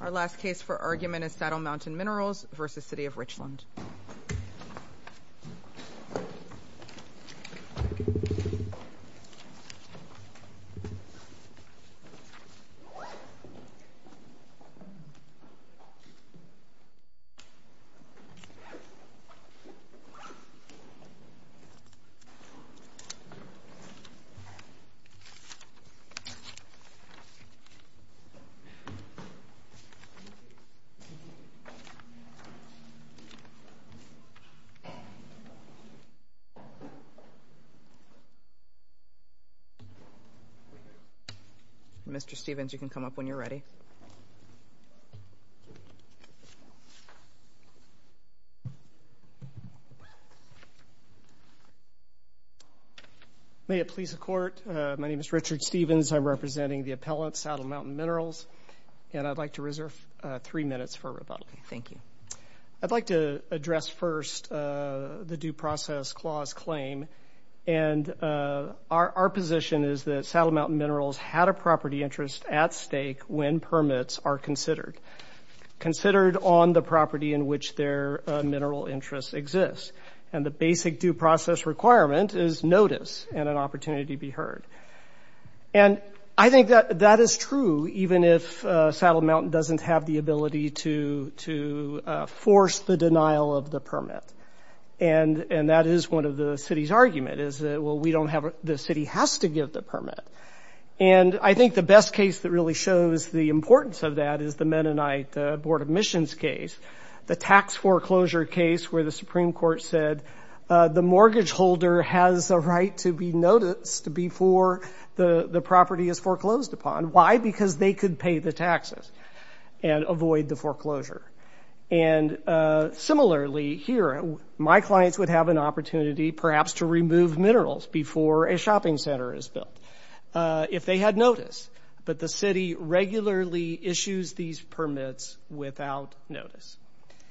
Our last case for argument is Saddle Mountain Minerals v. City of Richland Mr. Stephens, you can come up when you're ready. Mr. Stephens, I'm representing the appellant, Saddle Mountain Minerals, and I'd like to reserve three minutes for rebuttal. Thank you. I'd like to address first the Due Process Clause claim, and our position is that Saddle Mountain Minerals v. City of Richland are considered on the property in which their mineral interests exist. And the basic due process requirement is notice and an opportunity be heard. And I think that that is true, even if Saddle Mountain doesn't have the ability to force the denial of the permit. And that is one of the city's argument, is that, well, we don't have – the city has to give the permit. And I think the best case that really shows the importance of that is the Mennonite Board of Admissions case, the tax foreclosure case where the Supreme Court said the mortgage holder has a right to be noticed before the property is foreclosed upon. Why? Because they could pay the taxes and avoid the foreclosure. And similarly here, my clients would have an opportunity perhaps to remove minerals before a shopping center is built if they had notice. But the city regularly issues these permits without notice.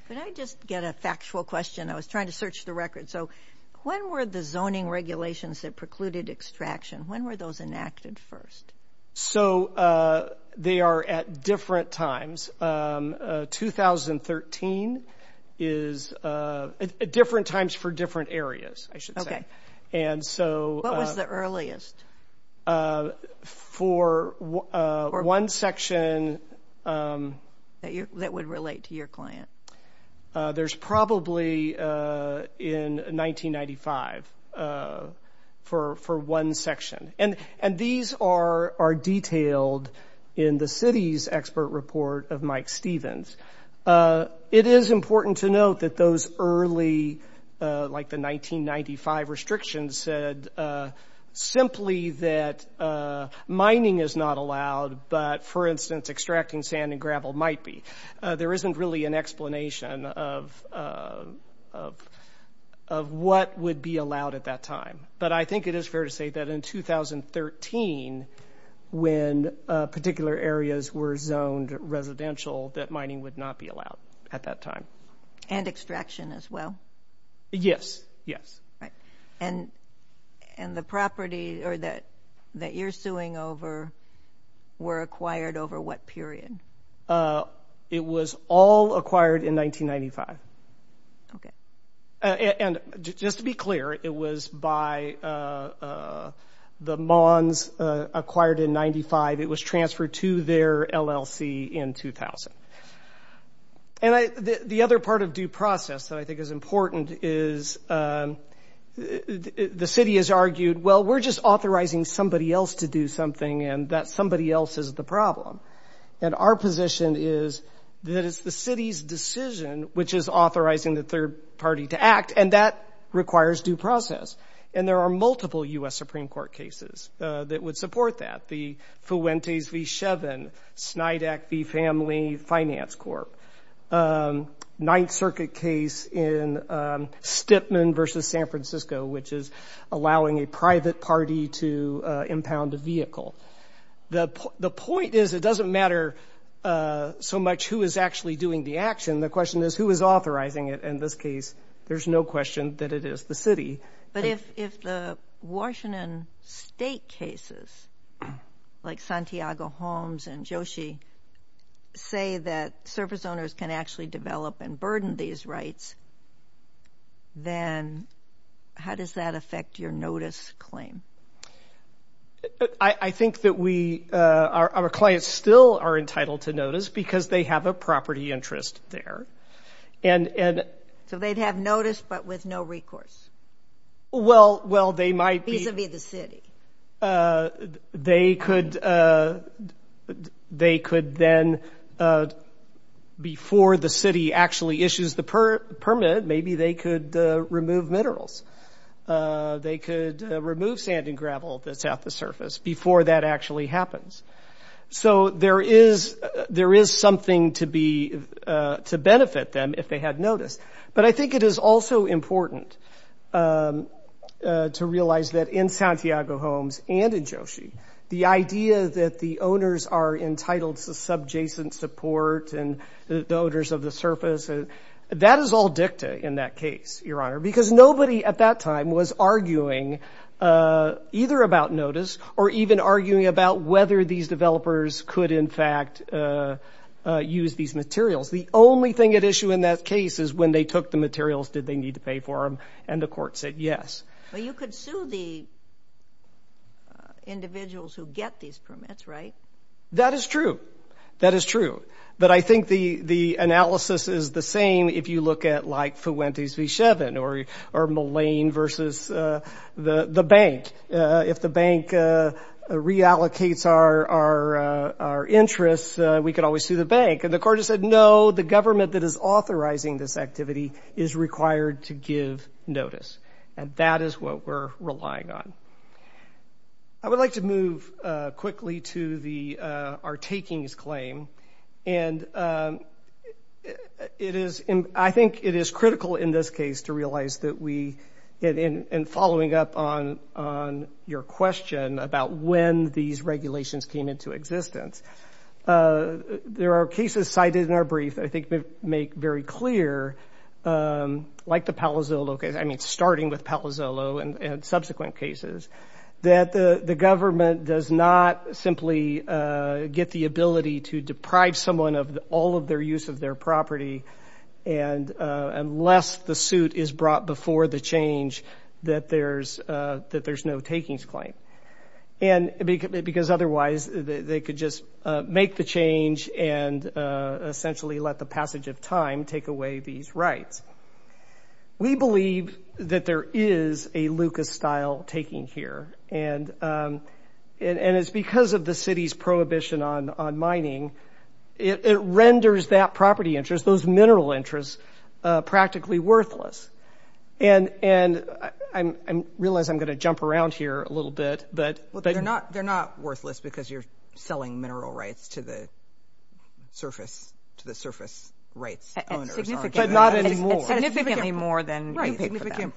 Could I just get a factual question? I was trying to search the record. So when were the zoning regulations that precluded extraction, when were those enacted first? So they are at different times. 2013 is – different times for different areas, I should say. And so – What was the earliest? For one section – That would relate to your client. There's probably in 1995 for one section. And these are detailed in the city's expert report of Mike Stevens. It is important to note that those early – like the 1995 restrictions said simply that mining is not allowed, but for instance, extracting sand and gravel might be. There isn't really an explanation of what would be allowed at that time. But I think it is fair to say that in 2013, when particular areas were zoned residential that mining would not be allowed at that time. And extraction as well? Yes. Yes. Right. And the property – or that you're suing over were acquired over what period? It was all acquired in 1995. Okay. And just to be clear, it was by the Mons acquired in 95. It was transferred to their LLC in 2000. And the other part of due process that I think is important is the city has argued, well, we're just authorizing somebody else to do something, and that somebody else is the problem. And our position is that it's the city's decision which is authorizing the third party to act, and that requires due process. And there are multiple U.S. Supreme Court cases that would support that. The Fuentes v. Shevin, Snydack v. Family Finance Corp., Ninth Circuit case in Stipman v. San Francisco, which is allowing a private party to impound a vehicle. The point is it doesn't matter so much who is actually doing the action. The question is who is authorizing it. In this case, there's no question that it is the city. But if the Washington state cases, like Santiago-Holmes and Joshi, say that service owners can actually develop and burden these rights, then how does that affect your notice claim? I think that our clients still are entitled to notice because they have a property interest there. So they'd have notice, but with no recourse, vis-a-vis the city. They could then, before the city actually issues the permit, maybe they could remove minerals. They could remove sand and gravel that's at the surface before that actually happens. So there is something to benefit them if they had notice. But I think it is also important to realize that in Santiago-Holmes and in Joshi, the idea that the owners are entitled to subjacent support and the owners of the surface, that is all dicta in that case, Your Honor, because nobody at that time was arguing either about notice or even arguing about whether these developers could, in fact, use these materials. The only thing at issue in that case is when they took the materials, did they need to pay for them? And the court said yes. But you could sue the individuals who get these permits, right? That is true. That is true. But I think the analysis is the same if you look at, like, Fuentes v. Shevin or Mullane versus the bank. If the bank reallocates our interests, we could always sue the bank. And the court has said, no, the government that is authorizing this activity is required to give notice. And that is what we're relying on. I would like to move quickly to our takings claim. And it is, I think it is critical in this case to realize that we, in following up on your question about when these regulations came into existence, there are cases cited in our brief that I think make very clear, like the Palazzolo case, I mean, starting with Palazzolo and subsequent cases, that the government does not simply get the ability to deprive someone of all of their use of their property unless the suit is brought before the change that there's no takings claim. And because otherwise they could just make the change and essentially let the passage of time take away these rights. We believe that there is a Lucas-style taking here. And it's because of the city's prohibition on mining, it renders that property interest, those mineral interests, practically worthless. And I realize I'm going to jump around here a little bit, but... They're not worthless because you're selling mineral rights to the surface rights owners. But not anymore. It's significantly more than you pay for them.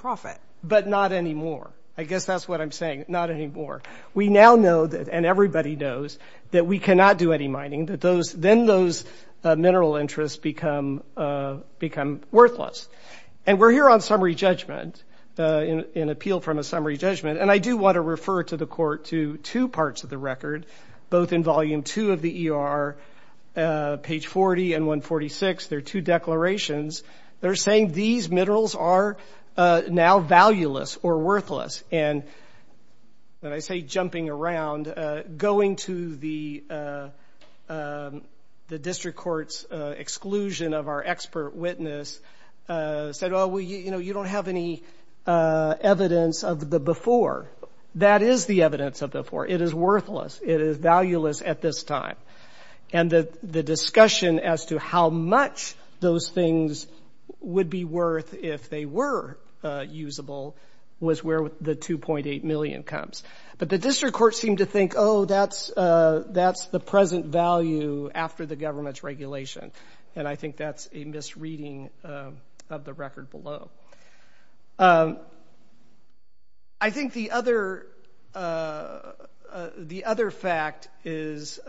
But not anymore. I guess that's what I'm saying. Not anymore. We now know that, and everybody knows, that we cannot do any mining. Then those mineral interests become worthless. And we're here on summary judgment, an appeal from a summary judgment. And I do want to refer to the court to two parts of the record, both in volume two of the ER, page 40 and 146, there are two declarations that are saying these minerals are now valueless or worthless. And when I say jumping around, going to the district court's exclusion of our expert witness said, well, you know, you don't have any evidence of the before. That is the evidence of the before. It is worthless. It is valueless at this time. And the discussion as to how much those things would be worth if they were usable was where the 2.8 million comes. But the district court seemed to think, oh, that's the present value after the government's regulation. And I think that's a misreading of the record below. I think the other fact is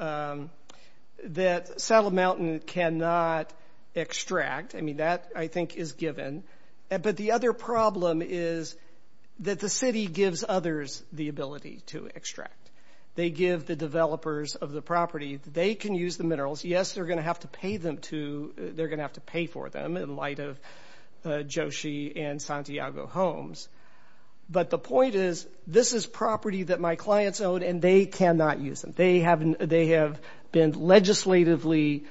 that Saddle Mountain cannot extract. I mean, that, I think, is given. But the other problem is that the city gives others the ability to extract. They give the developers of the property. They can use the minerals. Yes, they're going to have to pay for them in light of Joshi and Santiago homes. But the point is, this is property that my clients own, and they cannot use them. They have been legislatively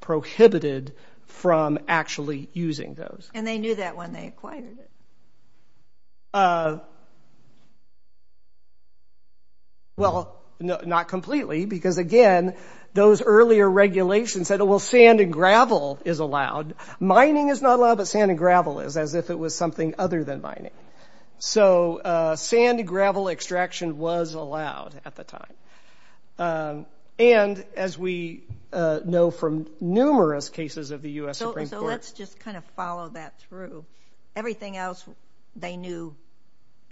prohibited from actually using those. And they knew that when they acquired it. Well, no, not completely, because again, those earlier regulations said, well, sand and gravel is allowed. Mining is not allowed, but sand and gravel is, as if it was something other than mining. So sand and gravel extraction was allowed at the time. And as we know from numerous cases of the U.S. Supreme Court. So let's just kind of follow that through. Everything else, they knew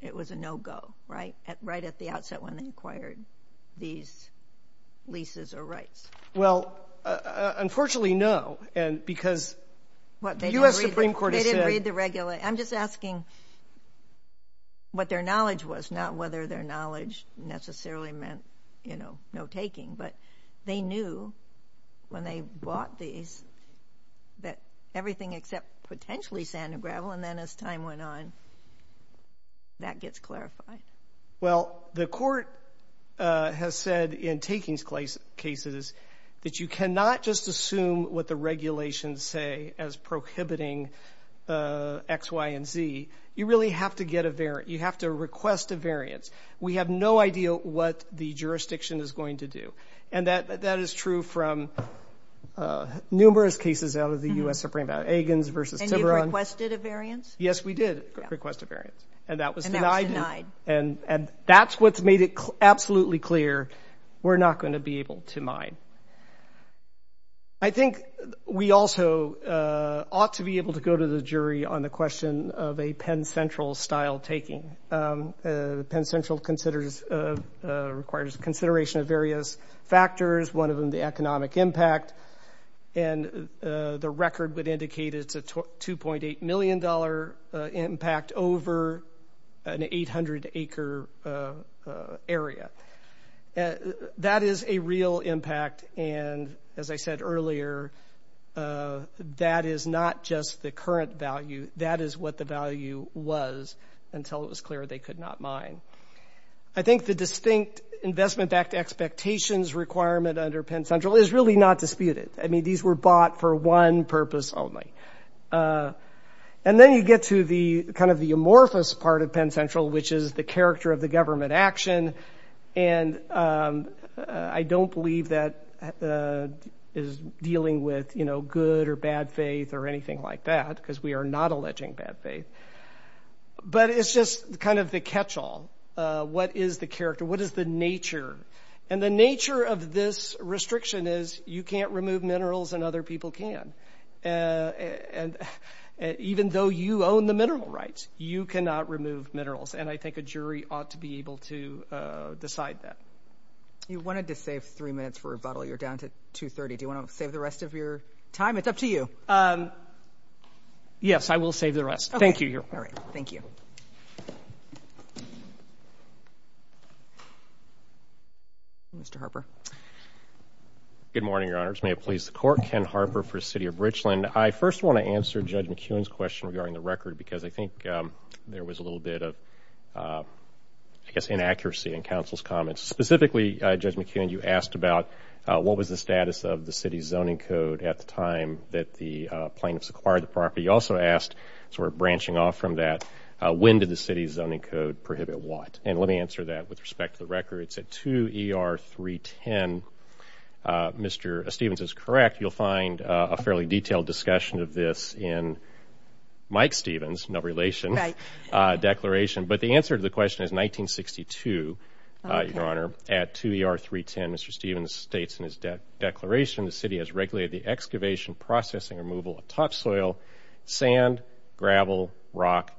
it was a no-go, right? Right at the outset when they acquired these leases or rights. Well, unfortunately, no. And because the U.S. Supreme Court has said. They didn't read the regulations. I'm just asking what their knowledge was, not whether their knowledge necessarily meant no taking. But they knew when they bought these that everything except potentially sand and gravel. And then as time went on, that gets clarified. Well, the court has said in takings cases that you cannot just assume what the regulations say as prohibiting X, Y, and Z. You really have to get a variant. You have to request a variance. We have no idea what the jurisdiction is going to do. And that is true from numerous cases out of the U.S. Supreme Court. Egans versus Tiverland. And you requested a variance? Yes, we did request a variance. And that was denied. And that's what's made it absolutely clear. We're not going to be able to mine. I think we also ought to be able to go to the jury on the question of a Penn Central style taking. Penn Central requires consideration of various factors, one of them the economic impact. And the record would indicate it's a $2.8 million impact over an 800-acre area. That is a real impact. And as I said earlier, that is not just the current value. That is what the value was until it was clear they could not mine. I think the distinct investment-backed expectations requirement under Penn Central is really not disputed. I mean, these were bought for one purpose only. And then you get to the kind of the amorphous part of Penn Central, which is the character of the government action. And I don't believe that is dealing with, you know, good or bad faith or anything like that, because we are not alleging bad faith. But it's just kind of the catch-all. What is the character? What is the nature? And the nature of this restriction is you can't remove minerals and other people can. And even though you own the mineral rights, you cannot remove minerals. And I think a jury ought to be able to decide that. You wanted to save three minutes for rebuttal. You're down to 2.30. Do you want to save the rest of your time? It's up to you. Yes, I will save the rest. Thank you, Your Honor. All right. Thank you. Mr. Harper. Good morning, Your Honors. May it please the Court, Ken Harper for the City of Richland. I first want to answer Judge McEwen's question regarding the record, because I think there was a little bit of, I guess, inaccuracy in counsel's comments. Specifically, Judge McEwen, you asked about what was the status of the city's zoning code at the time that the plaintiffs acquired the property. You also asked, sort of branching off from that, when did the city's zoning code prohibit what? And let me answer that with respect to the record. It's at 2 ER 310. Mr. Stephens is correct. You'll find a fairly detailed discussion of this in Mike Stephens, no relation, declaration. But the answer to the question is 1962, Your Honor, at 2 ER 310, Mr. Stephens states in his declaration, the city has regulated the excavation, processing, removal of topsoil, sand, gravel, rock,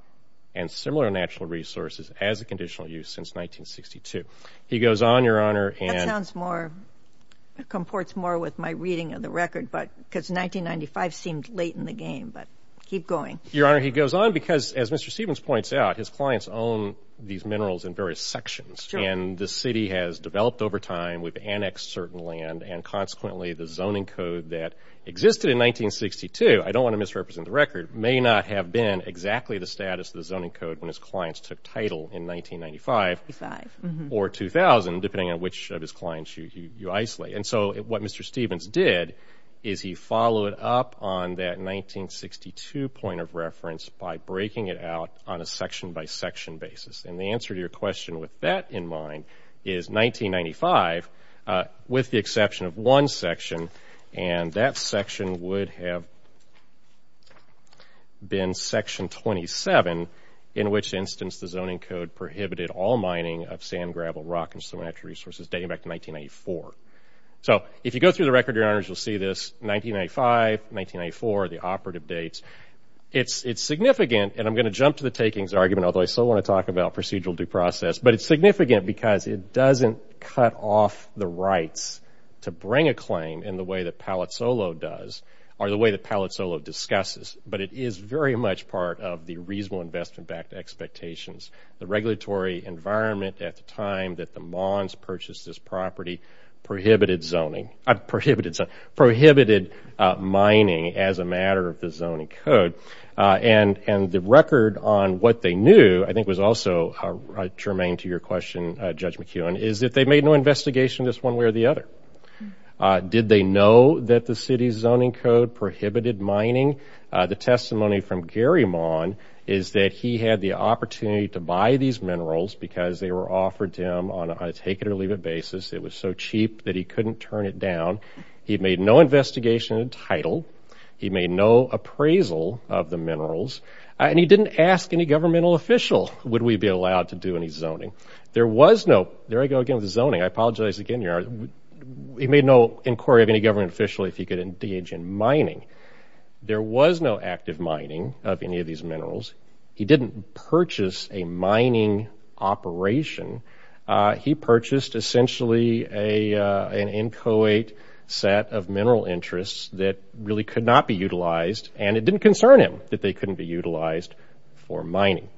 and similar natural resources as a conditional use since 1962. He goes on, Your Honor. That sounds more, comports more with my reading of the record, because 1995 seemed late in the game. But keep going. Your Honor, he goes on because, as Mr. Stephens points out, his clients own these minerals in various sections. Sure. And the city has developed over time, we've annexed certain land, and consequently the zoning code that existed in 1962, I don't want to misrepresent the record, may not have been exactly the status of the zoning code when his clients took title in 1995 or 2000, depending on which of his clients you isolate. And so what Mr. Stephens did is he followed up on that 1962 point of reference by breaking it out on a section by section basis. And the answer to your question with that in mind is 1995, with the exception of one section, and that section would have been section 27, in which instance the zoning code prohibited all mining of sand, gravel, rock, and similar natural resources dating back to 1994. So if you go through the record, Your Honors, you'll see this 1995, 1994, the operative dates. It's significant, and I'm going to jump to the takings argument, although I still want to talk about procedural due process. But it's significant because it doesn't cut off the rights to bring a claim in the way that Palazzolo does, or the way that Palazzolo discusses. But it is very much part of the reasonable investment backed expectations. The regulatory environment at the time that the Mons purchased this property prohibited zoning, prohibited mining as a matter of the zoning code. And the record on what they knew, I think was also germane to your question, Judge McEwen, is that they made no investigation of this one way or the other. Did they know that the city's zoning code prohibited mining? The testimony from Gary Mon is that he had the opportunity to buy these minerals because they were offered to him on a take it or leave it basis. It was so cheap that he couldn't turn it down. He made no investigation of the title. He made no appraisal of the minerals. And he didn't ask any governmental official, would we be allowed to do any zoning? There was no, there I go again with zoning, I apologize again. He made no inquiry of any government official if he could engage in mining. There was no active mining of any of these minerals. He didn't purchase a mining operation. He purchased essentially an inchoate set of mineral interests that really could not be utilized and it didn't concern him that they couldn't be utilized for mining.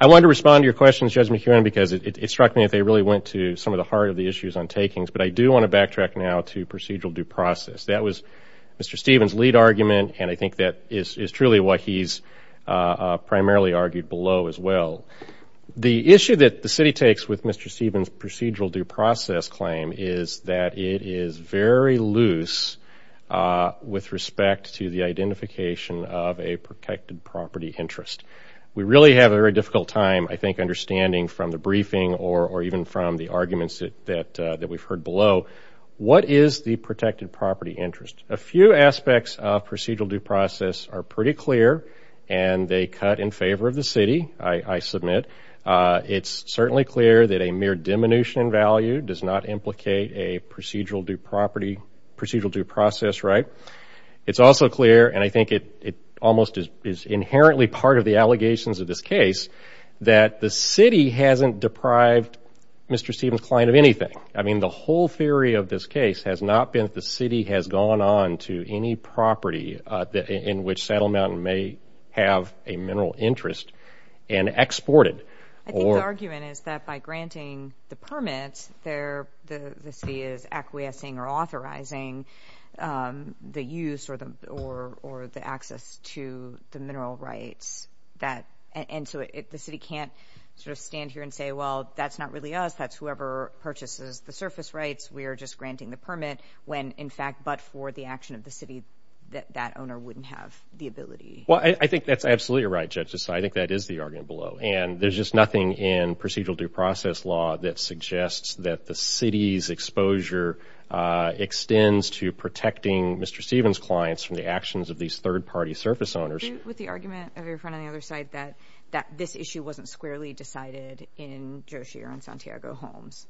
I wanted to respond to your question, Judge McEwen, because it struck me that they really went to some of the heart of the issues on takings. But I do want to backtrack now to procedural due process. That was Mr. Stevens' lead argument and I think that is truly what he's primarily argued below as well. The issue that the city takes with Mr. Stevens' procedural due process claim is that it is very loose with respect to the identification of a protected property interest. We really have a very difficult time, I think, understanding from the briefing or even from the arguments that we've heard below, what is the protected property interest? A few aspects of procedural due process are pretty clear and they cut in favor of the city, I submit. It's certainly clear that a mere diminution in value does not implicate a procedural due process right. It's also clear, and I think it almost is inherently part of the allegations of this case, that the city hasn't deprived Mr. Stevens' client of anything. The whole theory of this case has not been that the city has gone on to any property in which Saddle Mountain may have a mineral interest and exported or... I think the argument is that by granting the permit, the city is acquiescing or authorizing the use or the access to the mineral rights. And so the city can't sort of stand here and say, well, that's not really us, that's whoever purchases the surface rights, we're just granting the permit, when in fact, but for the action of the city, that that owner wouldn't have the ability. Well, I think that's absolutely right, Judges, so I think that is the argument below. And there's just nothing in procedural due process law that suggests that the city's exposure extends to protecting Mr. Stevens' clients from the actions of these third-party surface owners. Do you agree with the argument of your friend on the other side that this issue wasn't squarely decided in Joe Sheer and Santiago Homes?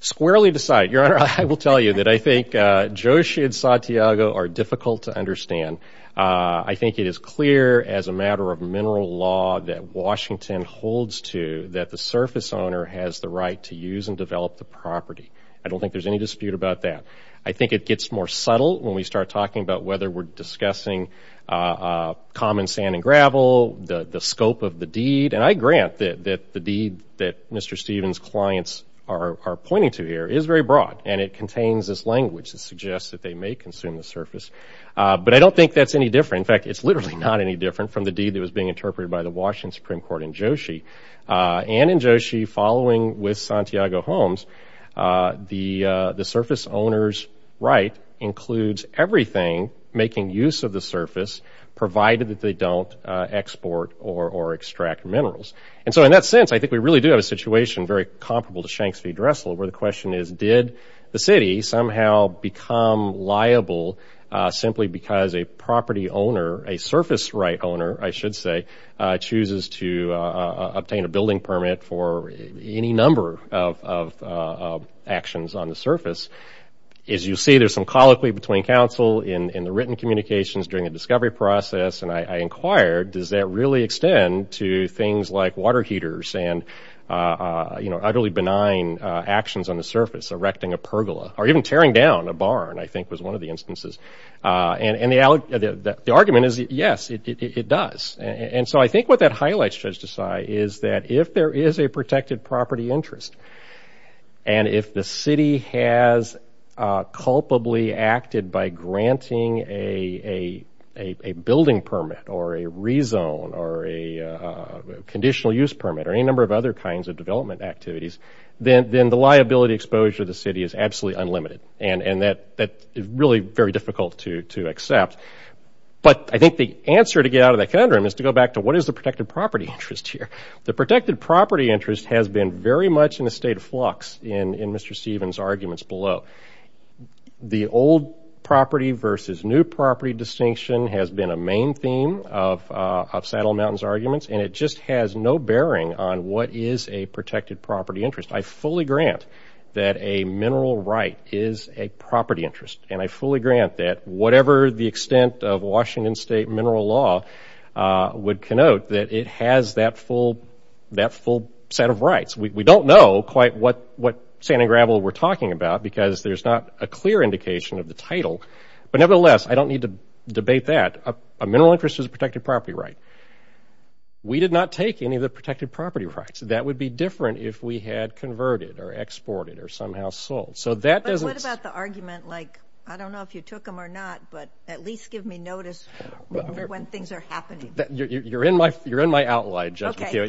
Squarely decided, Your Honor, I will tell you that I think Joe Sheer and Santiago are difficult to understand. I think it is clear as a matter of mineral law that Washington holds to that the surface owner has the right to use and develop the property. I don't think there's any dispute about that. I think it gets more subtle when we start talking about whether we're discussing common sand and gravel, the scope of the deed, and I grant that the deed that Mr. Stevens' clients are pointing to here is very broad, and it contains this language that suggests that they may consume the surface. But I don't think that's any different. In fact, it's literally not any different from the deed that was being interpreted by the Washington Supreme Court in Joe Sheer. And in Joe Sheer, following with Santiago Homes, the surface owner's right includes everything making use of the surface, provided that they don't export or extract minerals. And so in that sense, I think we really do have a situation very comparable to Shanks v. Dressel, where the question is, did the city somehow become liable simply because a property owner, a surface right owner, I should say, chooses to obtain a building permit for any number of actions on the surface? As you see, there's some colloquy between counsel in the written communications during the discovery process, and I inquired, does that really extend to things like water heaters and utterly benign actions on the surface, erecting a pergola, or even tearing down a barn, I think was one of the instances. And the argument is, yes, it does. And so I think what that highlights, Judge Desai, is that if there is a protected property interest, and if the city has culpably acted by granting a building permit or a rezone or a conditional use permit or any number of other kinds of development activities, then the liability exposure to the city is absolutely unlimited. And that is really very difficult to accept. But I think the answer to get out of that conundrum is to go back to, what is the protected property interest here? The protected property interest has been very much in a state of flux in Mr. Stevens' arguments below. The old property versus new property distinction has been a main theme of Saddle Mountain's arguments, and it just has no bearing on what is a protected property interest. I fully grant that a mineral right is a property interest, and I fully grant that whatever the extent of Washington State mineral law would connote, that it has that full set of We don't know quite what sand and gravel we're talking about because there's not a clear indication of the title, but nevertheless, I don't need to debate that. A mineral interest is a protected property right. We did not take any of the protected property rights. That would be different if we had converted or exported or somehow sold. So that doesn't... I don't know if you took them or not, but at least give me notice when things are happening. You're in my outline, Judge McHugh.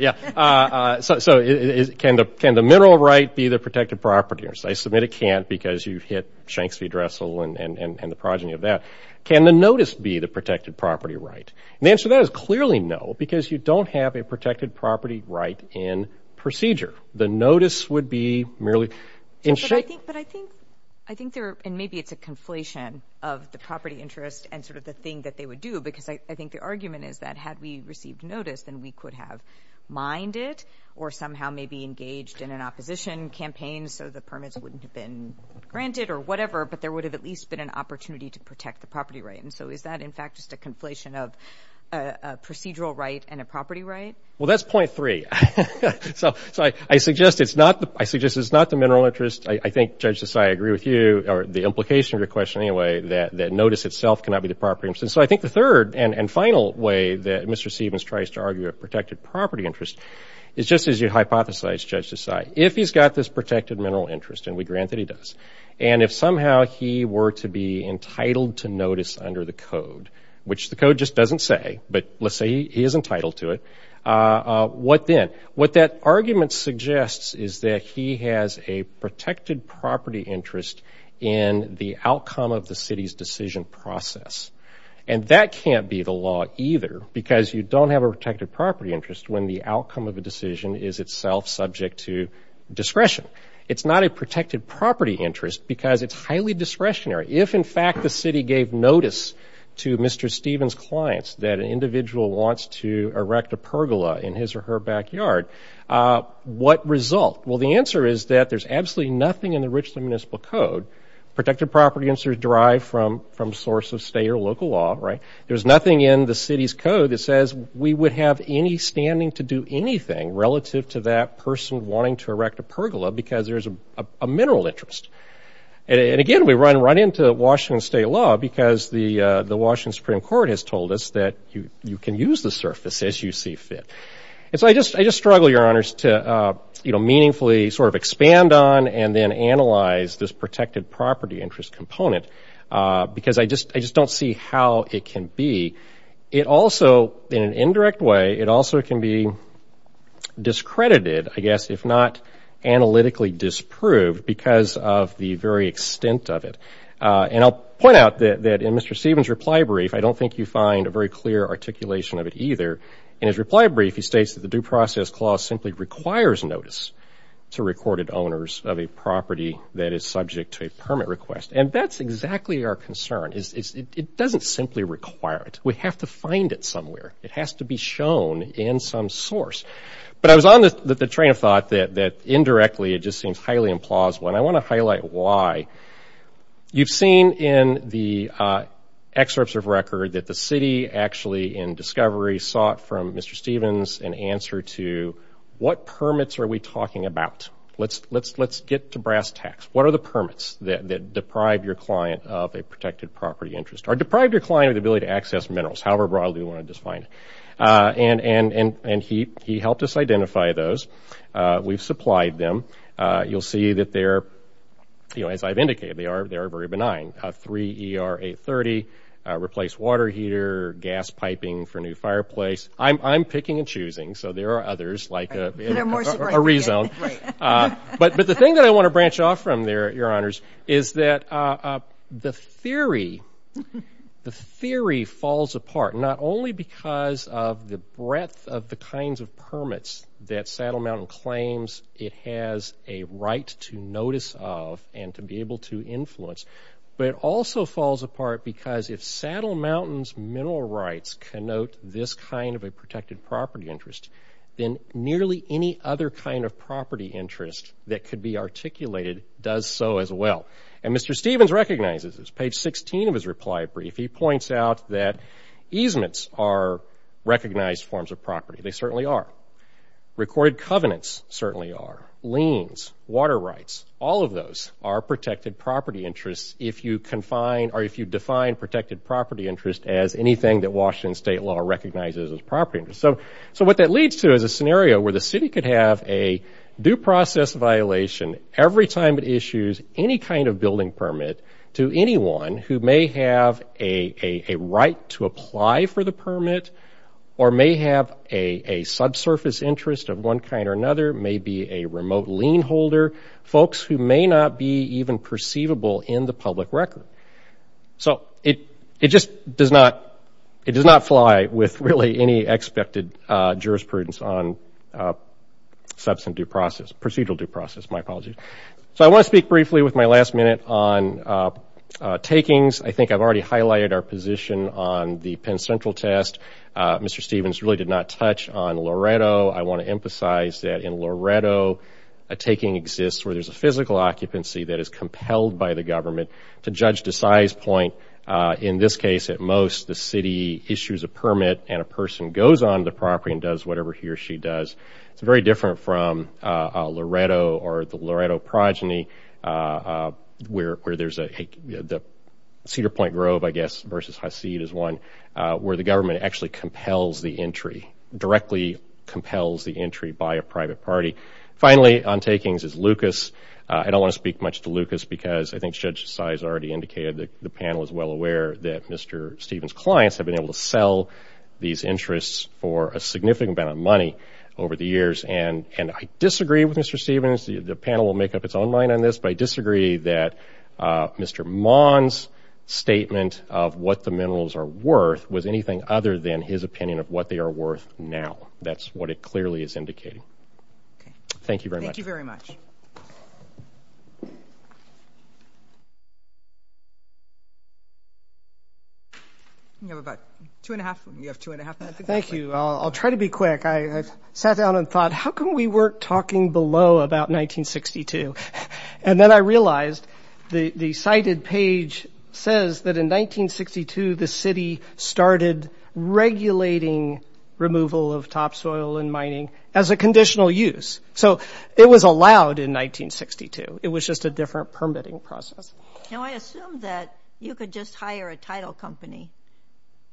So can the mineral right be the protected property interest? I submit it can't because you've hit Shanks v. Dressel and the progeny of that. Can the notice be the protected property right? And the answer to that is clearly no, because you don't have a protected property right in procedure. The notice would be merely in shape... But I think there... And maybe it's a conflation of the property interest and sort of the thing that they would do because I think the argument is that had we received notice, then we could have mined it or somehow maybe engaged in an opposition campaign so the permits wouldn't have been granted or whatever, but there would have at least been an opportunity to protect the property right. And so is that, in fact, just a conflation of a procedural right and a property right? Well, that's point three. So I suggest it's not the mineral interest. I think, Judge Desai, I agree with you, or the implication of your question anyway, that notice itself cannot be the property interest. So I think the third and final way that Mr. Stevens tries to argue a protected property interest is just as you hypothesized, Judge Desai. If he's got this protected mineral interest, and we grant that he does, and if somehow he were to be entitled to notice under the code, which the code just doesn't say, but let's say he is entitled to it, what then? What that argument suggests is that he has a protected property interest in the outcome of the city's decision process. And that can't be the law either because you don't have a protected property interest when the outcome of a decision is itself subject to discretion. It's not a protected property interest because it's highly discretionary. If in fact the city gave notice to Mr. Stevens' clients that an individual wants to erect a pergola in his or her backyard, what result? Well, the answer is that there's absolutely nothing in the Richland Municipal Code. Protected property interest is derived from source of state or local law, right? There's nothing in the city's code that says we would have any standing to do anything relative to that person wanting to erect a pergola because there's a mineral interest. And again, we run right into Washington state law because the Washington Supreme Court has told us that you can use the surface as you see fit. And so I just struggle, Your Honors, to, you know, meaningfully sort of expand on and then analyze this protected property interest component because I just don't see how it can be. It also, in an indirect way, it also can be discredited, I guess, if not analytically disproved because of the very extent of it. And I'll point out that in Mr. Stevens' reply brief, I don't think you find a very clear articulation of it either. In his reply brief, he states that the Due Process Clause simply requires notice to recorded owners of a property that is subject to a permit request. And that's exactly our concern. It doesn't simply require it. We have to find it somewhere. It has to be shown in some source. But I was on the train of thought that indirectly it just seems highly implausible, and I want to highlight why. You've seen in the excerpts of record that the city actually, in discovery, sought from Mr. Stevens an answer to what permits are we talking about? Let's get to brass tacks. What are the permits that deprive your client of a protected property interest or deprive your client of the ability to access minerals, however broadly you want to define it? And he helped us identify those. We've supplied them. You'll see that they're, you know, as I've indicated, they are very benign, 3ER830, replace water heater, gas piping for a new fireplace. I'm picking and choosing, so there are others like a rezone. But the thing that I want to branch off from there, Your Honors, is that the theory falls apart not only because of the breadth of the kinds of permits that Saddle Mountain claims it has a right to notice of and to be able to influence, but it also falls apart because if Saddle Mountain's mineral rights connote this kind of a protected property interest, then nearly any other kind of property interest that could be articulated does so as well. And Mr. Stevens recognizes this. Page 16 of his reply brief, he points out that easements are recognized forms of property. They certainly are. Recorded covenants certainly are. Liens, water rights, all of those are protected property interests if you define protected property interest as anything that Washington State law recognizes as property interest. So what that leads to is a scenario where the city could have a due process violation every time it issues any kind of building permit to anyone who may have a right to apply for the permit or may have a subsurface interest of one kind or another, may be a remote lien holder, folks who may not be even perceivable in the public record. So it just does not fly with really any expected jurisprudence on procedural due process. My apologies. So I want to speak briefly with my last minute on takings. I think I've already highlighted our position on the Penn Central test. Mr. Stevens really did not touch on Loreto. I want to emphasize that in Loreto, a taking exists where there's a physical occupancy that is compelled by the government to judge the size point. In this case, at most, the city issues a permit and a person goes on the property and does whatever he or she does. It's very different from Loreto or the Loreto progeny where there's a Cedar Point Grove, I guess, versus Hasid is one, where the government actually compels the entry, directly compels the entry by a private party. Finally, on takings is Lucas. I don't want to speak much to Lucas because I think Judge Asai has already indicated that the panel is well aware that Mr. Stevens' clients have been able to sell these interests for a significant amount of money over the years. And I disagree with Mr. Stevens. The panel will make up its own mind on this, but I disagree that Mr. Maughan's statement of what the minerals are worth was anything other than his opinion of what they are worth now. That's what it clearly is indicating. Thank you very much. Thank you very much. You have about two and a half, you have two and a half minutes. Thank you. I'll try to be quick. I sat down and thought, how come we weren't talking below about 1962? And then I realized the cited page says that in 1962, the city started regulating removal of topsoil and mining as a conditional use. So it was allowed in 1962. It was just a different permitting process. Now, I assume that you could just hire a title company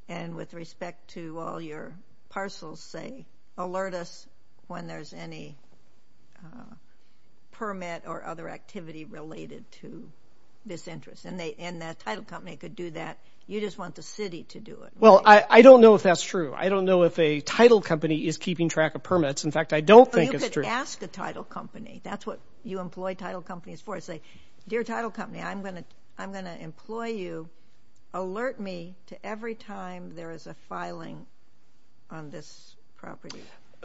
and with respect to all your parcels say, alert us when there's any permit or other activity related to this interest. And the title company could do that. You just want the city to do it. Well, I don't know if that's true. I don't know if a title company is keeping track of permits. In fact, I don't think it's true. Well, you could ask a title company. That's what you employ title companies for. You could say, dear title company, I'm going to employ you. Alert me to every time there is a filing on this property.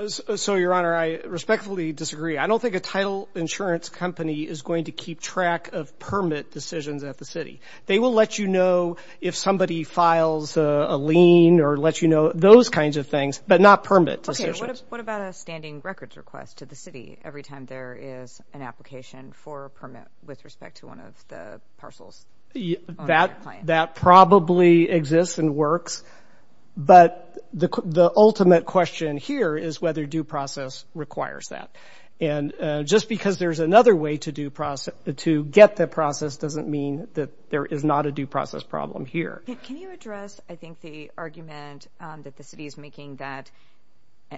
So Your Honor, I respectfully disagree. I don't think a title insurance company is going to keep track of permit decisions at the city. They will let you know if somebody files a lien or let you know those kinds of things, but not permit decisions. Okay. What about a standing records request to the city every time there is an application for a permit with respect to one of the parcels? That probably exists and works, but the ultimate question here is whether due process requires that. And just because there's another way to get the process doesn't mean that there is not a due process problem here. Can you address, I think, the argument that the city is making that,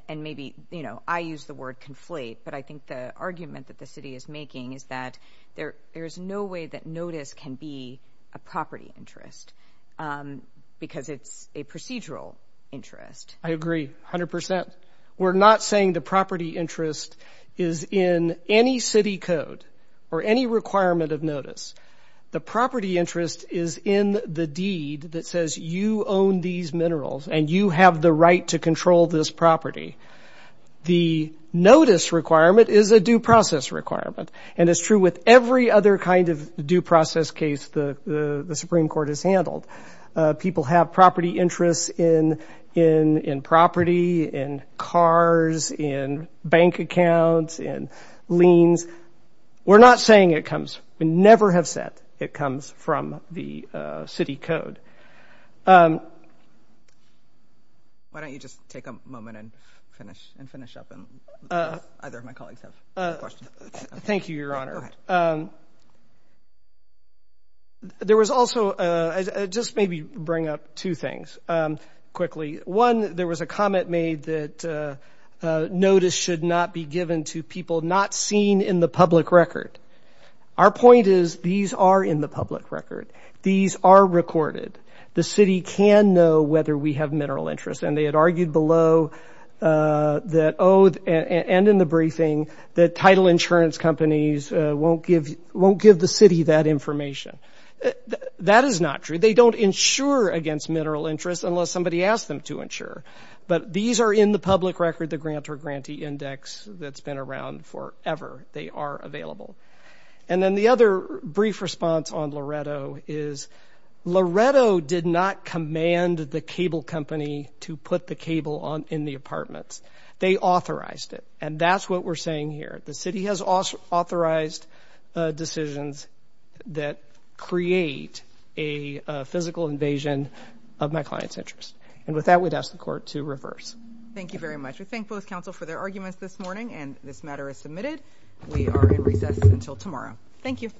and maybe, you know, I use the word conflate, but I think the argument that the city is making is that there is no way that notice can be a property interest because it's a procedural interest. I agree 100%. We're not saying the property interest is in any city code or any requirement of notice. The property interest is in the deed that says you own these minerals and you have the right to control this property. The notice requirement is a due process requirement, and it's true with every other kind of due process case the Supreme Court has handled. People have property interests in property, in cars, in bank accounts, in liens. We're not saying it comes. We never have said it comes from the city code. Why don't you just take a moment and finish up, and either of my colleagues have a question. Thank you, Your Honor. There was also, just maybe bring up two things quickly. One, there was a comment made that notice should not be given to people not seen in the public record. Our point is these are in the public record. These are recorded. The city can know whether we have mineral interests, and they had argued below that, and in the briefing, that title insurance companies won't give the city that information. That is not true. They don't insure against mineral interests unless somebody asks them to insure, but these are in the public record, the grantor grantee index that's been around forever. They are available. And then the other brief response on Loretto is Loretto did not command the cable company to put the cable in the apartments. They authorized it, and that's what we're saying here. The city has authorized decisions that create a physical invasion of my client's interest, and with that, we'd ask the court to reverse. Thank you very much. We thank both counsel for their arguments this morning, and this matter is submitted. We are in recess until tomorrow. Thank you.